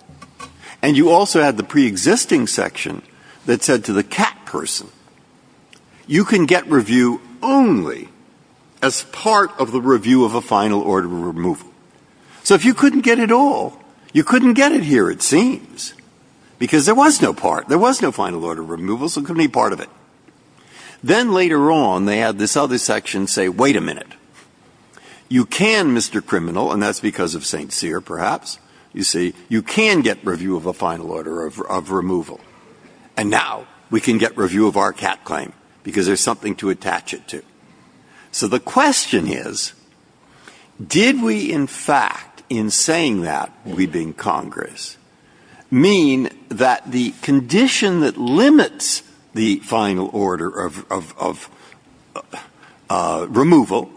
And you also had the preexisting section that said to the CAT person, you can get review only as part of the review of a final order of removal. So if you couldn't get it all, you couldn't get it here, it seems, because there was no part. There was no final order of removal, so it couldn't be part of it. Then later on, they had this other section say, wait a minute. You can, Mr. Criminal, and that's because of St. Cyr, perhaps, you see, you can get review of a final order of removal. And now we can get review of our CAT claim, because there's something to attach it to. So the question is, did we, in fact, in saying that, we being Congress, mean that the condition that limits the final order of removal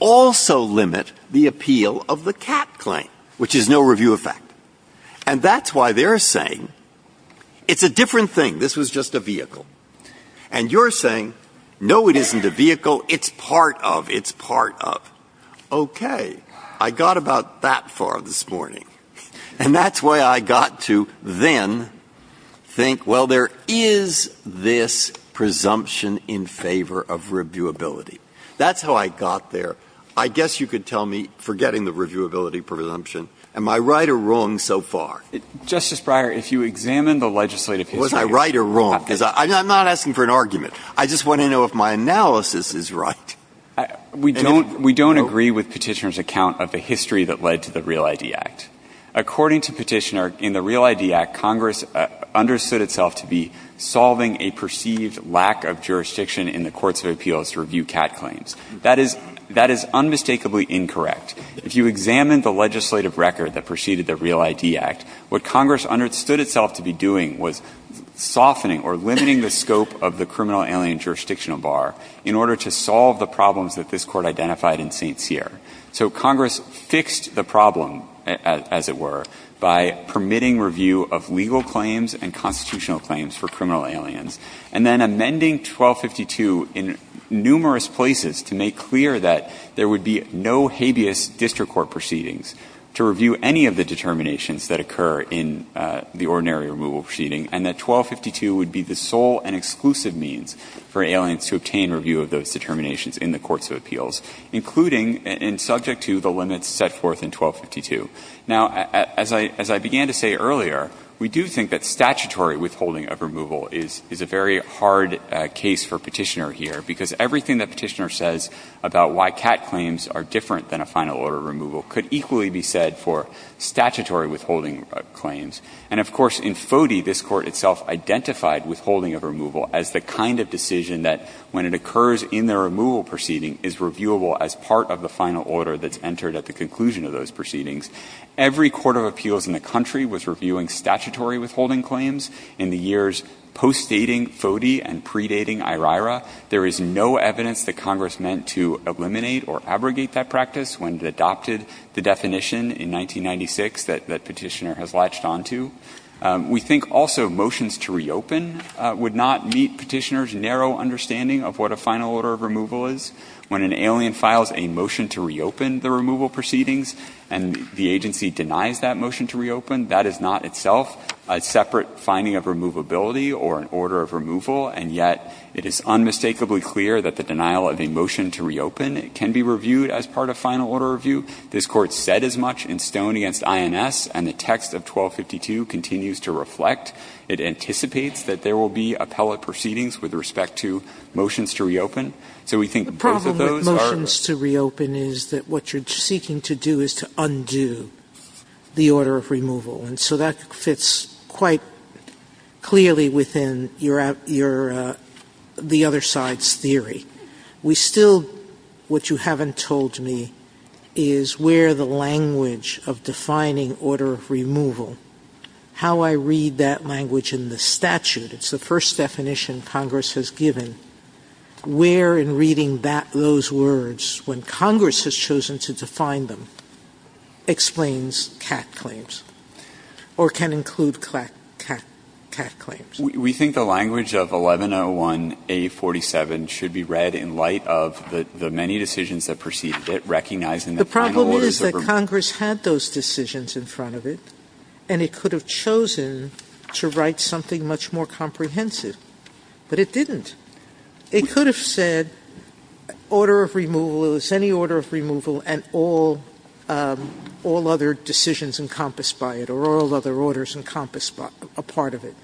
also limit the appeal of the CAT claim, which is no review of fact? And that's why they're saying it's a different thing. This was just a vehicle. And you're saying, no, it isn't a vehicle. It's part of, it's part of. Okay. I got about that far this morning. And that's why I got to then think, well, there is this presumption in favor of reviewability. That's how I got there. I guess you could tell me, forgetting the reviewability presumption, am I right or wrong so far? Mr. Breyer, if you examine the legislative history. Was I right or wrong, because I'm not asking for an argument. I just want to know if my analysis is right. We don't agree with Petitioner's account of the history that led to the Real ID Act. According to Petitioner, in the Real ID Act, Congress understood itself to be solving a perceived lack of jurisdiction in the courts of appeals to review CAT claims. That is unmistakably incorrect. If you examine the legislative record that preceded the Real ID Act, what Congress understood itself to be doing was softening or limiting the scope of the criminal alien jurisdictional bar in order to solve the problems that this Court identified in St. Cyr. So Congress fixed the problem, as it were, by permitting review of legal claims and constitutional claims for criminal aliens, and then amending 1252 in numerous places to make clear that there would be no habeas district court proceedings to review any of the determinations that occur in the ordinary removal proceeding, and that 1252 would be the sole and exclusive means for aliens to obtain review of those determinations in the courts of appeals, including and subject to the limits set forth in 1252. Now, as I began to say earlier, we do think that statutory withholding of removal is a very hard case for Petitioner here, because everything that Petitioner says about why CAT claims are different than a final order of removal could equally be said for statutory withholding claims. And of course, in FODE, this Court itself identified withholding of removal as the kind of decision that, when it occurs in the removal proceeding, is reviewable as part of the final order that's entered at the conclusion of those proceedings. Every court of appeals in the country was reviewing statutory withholding claims in the years post-dating FODE and predating IRIRA. There is no evidence that Congress meant to eliminate or abrogate that practice when it adopted the definition in 1996 that Petitioner has latched on to. We think also motions to reopen would not meet Petitioner's narrow understanding of what a final order of removal is. When an alien files a motion to reopen the removal proceedings and the agency denies that motion to reopen, that is not itself a separate finding of removability or an order of removal, and yet it is unmistakably clear that the denial of a motion to reopen can be reviewed as part of final order review. This Court said as much in Stone v. INS, and the text of 1252 continues to reflect. It anticipates that there will be appellate proceedings with respect to motions to reopen. So we think both of those are a part of the same thing. Sotomayor, the problem with motions to reopen is that what you're seeking to do is to undo the order of removal, and so that fits quite clearly within your other side's theory. We still, what you haven't told me, is where the language of defining order of removal, how I read that language in the statute, it's the first definition Congress has given, where in reading that, those words, when Congress has chosen to define them, explains CAC claims, or can include CAC claims. We think the language of 1101A47 should be read in light of the many decisions that preceded it, recognizing the final orders that were made. The problem is that Congress had those decisions in front of it, and it could have chosen to write something much more comprehensive, but it didn't. It could have said order of removal, it was any order of removal, and all other decisions encompassed by it, or all other orders encompassed a part of it.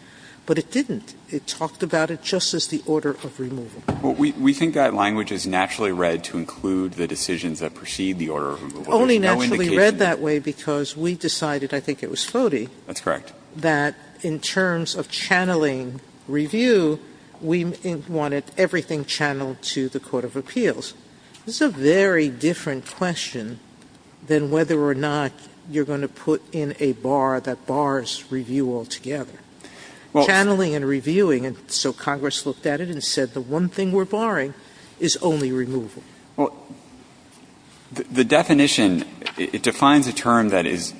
But it didn't. It talked about it just as the order of removal. We think that language is naturally read to include the decisions that precede the order of removal. Only naturally read that way because we decided, I think it was Fodi. That's correct. That in terms of channeling review, we wanted everything channeled to the court of appeals. Sotomayor, this is a very different question than whether or not you're going to put in a bar that bars review altogether. Channeling and reviewing, and so Congress looked at it and said the one thing we're barring is only removal. Well, the definition, it defines a term that is,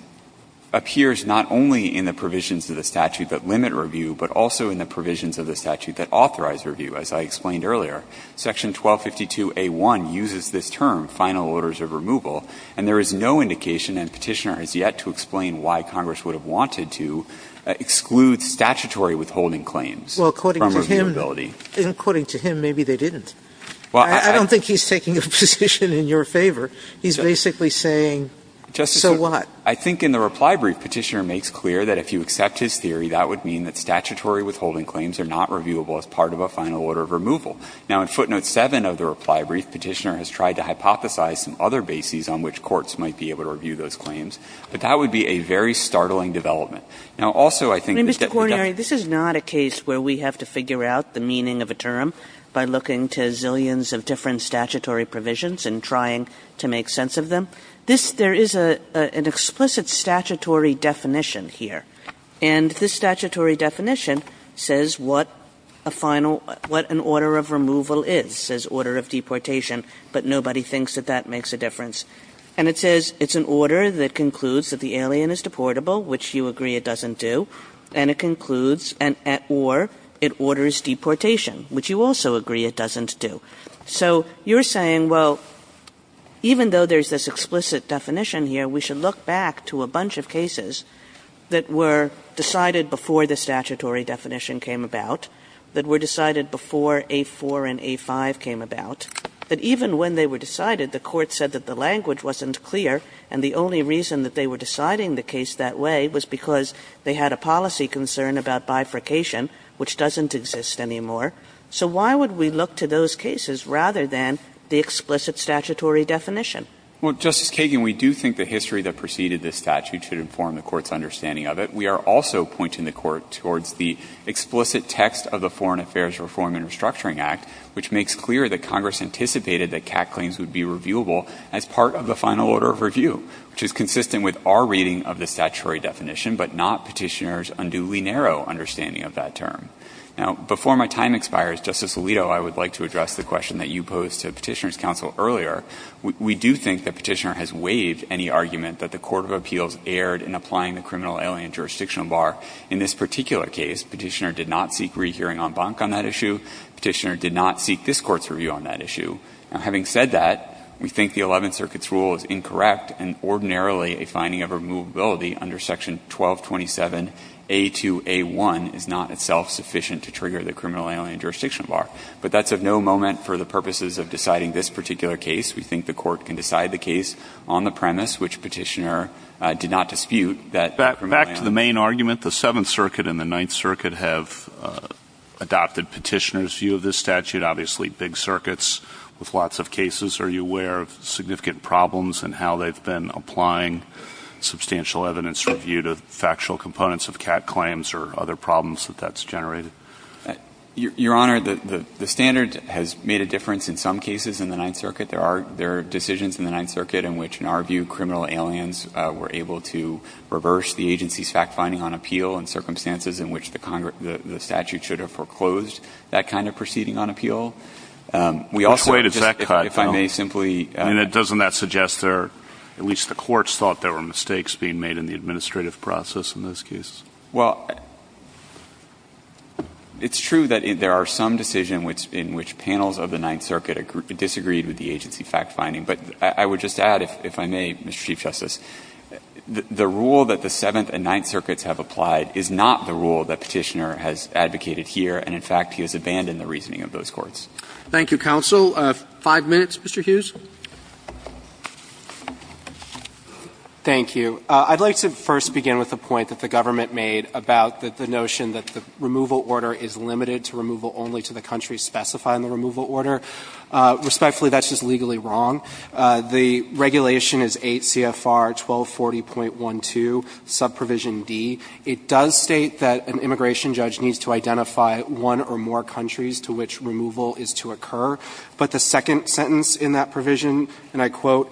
appears not only in the provisions of the statute that limit review, but also in the provisions of the statute that authorize review. As I explained earlier, section 1252a1 uses this term, final orders of removal, and there is no indication, and Petitioner has yet to explain why Congress would have wanted to exclude statutory withholding claims from reviewability. Well, according to him, maybe they didn't. I don't think he's taking a position in your favor. He's basically saying, so what? I think in the reply brief, Petitioner makes clear that if you accept his theory, that would mean that statutory withholding claims are not reviewable as part of a final order of removal. Now, in footnote 7 of the reply brief, Petitioner has tried to hypothesize some other bases on which courts might be able to review those claims, but that would be a very startling development. Now, also I think that the definition of the term that limits review, and Petitioner has yet to explain why Congress would have wanted to exclude statutory withholding claims from reviewability. Kagan. Kagan. Kagan. Kagan. Kagan. Kagan. Kagan. Kagan. Kagan. Kagan. Kagan. Kagan. And this statutory definition says what a final – what an order of removal is, says order of deportation, but nobody thinks that that makes a difference. And it says it's an order that concludes that the alien is deportable, which you agree it doesn't do. And it concludes – or it orders deportation, which you also agree it doesn't do. So you're saying, well, even though there's this explicit definition here, we should look back to a bunch of cases that were decided before the statutory definition came about, that were decided before A-4 and A-5 came about, that even when they were decided, the Court said that the language wasn't clear, and the only reason that they were deciding the case that way was because they had a policy concern about bifurcation, which doesn't exist anymore. So why would we look to those cases rather than the explicit statutory definition? Well, Justice Kagan, we do think the history that preceded this statute should inform the Court's understanding of it. We are also pointing the Court towards the explicit text of the Foreign Affairs Reform and Restructuring Act, which makes clear that Congress anticipated that CAC claims would be reviewable as part of the final order of review, which is consistent with our reading of the statutory definition, but not Petitioner's unduly narrow understanding of that term. Now, before my time expires, Justice Alito, I would like to address the question that you posed to Petitioner's counsel earlier. We do think that Petitioner has waived any argument that the court of appeals erred in applying the criminal alien jurisdictional bar. In this particular case, Petitioner did not seek rehearing en banc on that issue. Petitioner did not seek this Court's review on that issue. Now, having said that, we think the Eleventh Circuit's rule is incorrect, and ordinarily a finding of removability under Section 1227A2A1 is not itself sufficient to trigger the criminal alien jurisdictional bar, but that's of no moment for the purposes of deciding this particular case. We think the Court can decide the case on the premise which Petitioner did not dispute that criminal alien. Back to the main argument, the Seventh Circuit and the Ninth Circuit have adopted Petitioner's view of this statute, obviously big circuits with lots of cases. Are you aware of significant problems in how they've been applying substantial evidence review to factual components of CAC claims or other problems that that's generated? Your Honor, the standard has made a difference in some cases in the Ninth Circuit. There are decisions in the Ninth Circuit in which, in our view, criminal aliens were able to reverse the agency's fact-finding on appeal in circumstances in which the statute should have foreclosed that kind of proceeding on appeal. We also just, if I may simply ---- Which way does that cut, then? And doesn't that suggest there are at least the courts thought there were mistakes being made in the administrative process in those cases? Well, it's true that there are some decisions in which panels of the Ninth Circuit disagreed with the agency fact-finding, but I would just add, if I may, Mr. Chief Justice, the rule that the Seventh and Ninth Circuits have applied is not the rule that Petitioner has advocated here, and in fact, he has abandoned the reasoning of those courts. Thank you, counsel. Five minutes, Mr. Hughes. Thank you. I'd like to first begin with a point that the government made about the notion that the removal order is limited to removal only to the countries specifying the removal order. Respectfully, that's just legally wrong. The regulation is 8 CFR 1240.12, subprovision D. It does state that an immigration judge needs to identify one or more countries to which removal is to occur. But the second sentence in that provision, and I quote,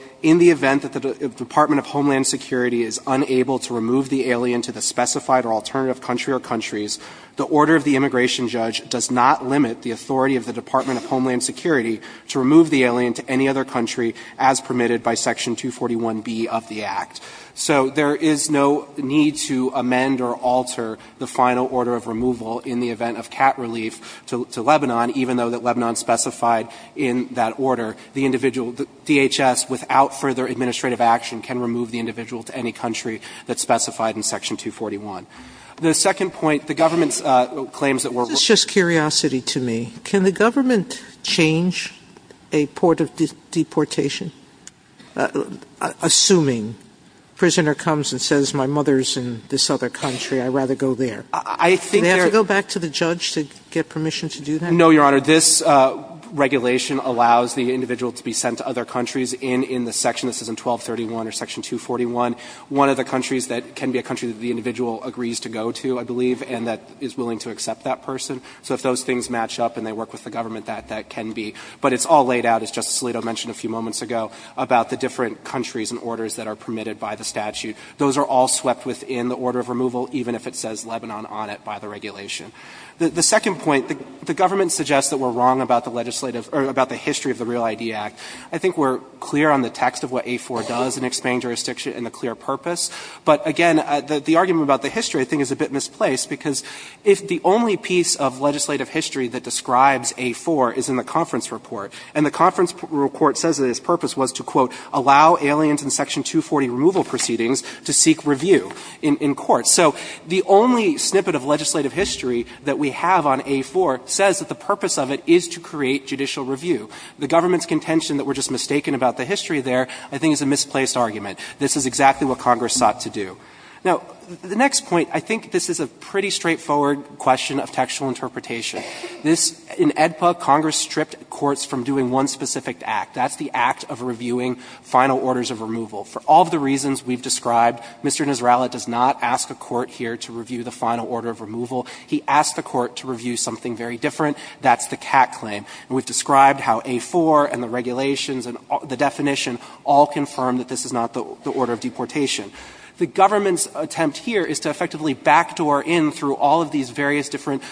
So there is no need to amend or alter the final order of removal in the event of cat relief to Lebanon, even though that Lebanon specified in that order the individual can remove the individual to any country that's specified in Section 241. The second point, the government's claims that we're removing This is just curiosity to me. Can the government change a port of deportation, assuming a prisoner comes and says my mother is in this other country, I'd rather go there? I think there Do they have to go back to the judge to get permission to do that? No, Your Honor. This regulation allows the individual to be sent to other countries in the section. This is in 1231 or Section 241. One of the countries that can be a country that the individual agrees to go to, I believe, and that is willing to accept that person. So if those things match up and they work with the government, that can be. But it's all laid out, as Justice Alito mentioned a few moments ago, about the different countries and orders that are permitted by the statute. Those are all swept within the order of removal, even if it says Lebanon on it by the regulation. The second point, the government suggests that we're wrong about the legislative or about the history of the Real ID Act. I think we're clear on the text of what A-4 does in explaining jurisdiction and the clear purpose. But again, the argument about the history, I think, is a bit misplaced, because if the only piece of legislative history that describes A-4 is in the conference report, and the conference report says that its purpose was to, quote, allow aliens in Section 240 removal proceedings to seek review in court. So the only snippet of legislative history that we have on A-4 says that the purpose of it is to create judicial review. The government's contention that we're just mistaken about the history there, I think, is a misplaced argument. This is exactly what Congress sought to do. Now, the next point, I think this is a pretty straightforward question of textual interpretation. This, in AEDPA, Congress stripped courts from doing one specific act. That's the act of reviewing final orders of removal. For all of the reasons we've described, Mr. Nisralat does not ask a court here to review the final order of removal. He asks the court to review something very different. That's the Catt claim. And we've described how A-4 and the regulations and the definition all confirm that this is not the order of deportation. The government's attempt here is to effectively backdoor in, through all of these various different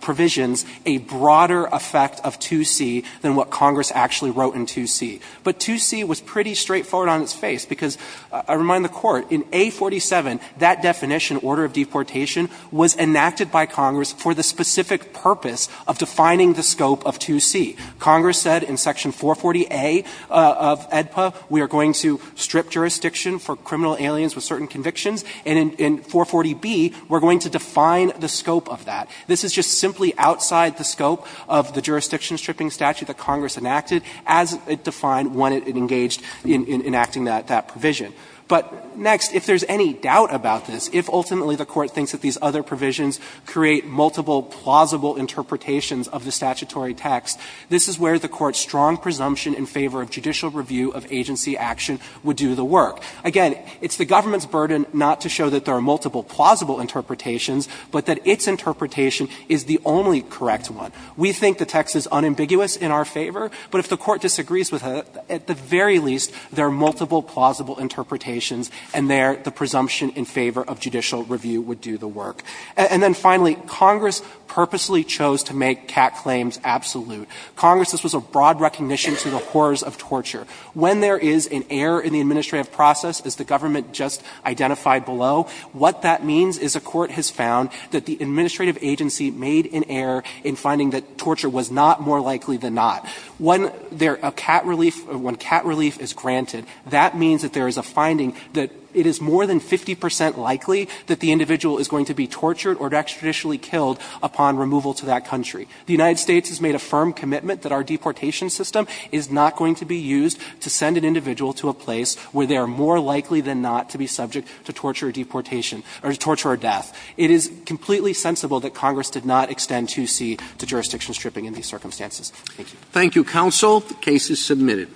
provisions, a broader effect of 2C than what Congress actually wrote in 2C. But 2C was pretty straightforward on its face, because I remind the Court, in A-47, that definition, order of deportation, was enacted by Congress for the specific purpose of defining the scope of 2C. Congress said in section 440A of AEDPA, we are going to strip jurisdiction for criminal aliens with certain convictions, and in 440B, we're going to define the scope of that. This is just simply outside the scope of the jurisdiction stripping statute that was defined when it engaged in enacting that provision. But next, if there's any doubt about this, if ultimately the Court thinks that these other provisions create multiple plausible interpretations of the statutory text, this is where the Court's strong presumption in favor of judicial review of agency action would do the work. Again, it's the government's burden not to show that there are multiple plausible interpretations, but that its interpretation is the only correct one. We think the text is unambiguous in our favor, but if the Court disagrees with it, at the very least, there are multiple plausible interpretations, and there the presumption in favor of judicial review would do the work. And then finally, Congress purposely chose to make CAC claims absolute. Congress, this was a broad recognition to the horrors of torture. When there is an error in the administrative process, as the government just identified below, what that means is a court has found that the administrative agency made an error in saying that torture was not more likely than not. When CAT relief is granted, that means that there is a finding that it is more than 50 percent likely that the individual is going to be tortured or extrajudicially killed upon removal to that country. The United States has made a firm commitment that our deportation system is not going to be used to send an individual to a place where they are more likely than not to be subject to torture or deportation or torture or death. It is completely sensible that Congress did not extend 2C to jurisdiction stripping in these circumstances. Thank you. Roberts. Thank you, counsel. The case is submitted.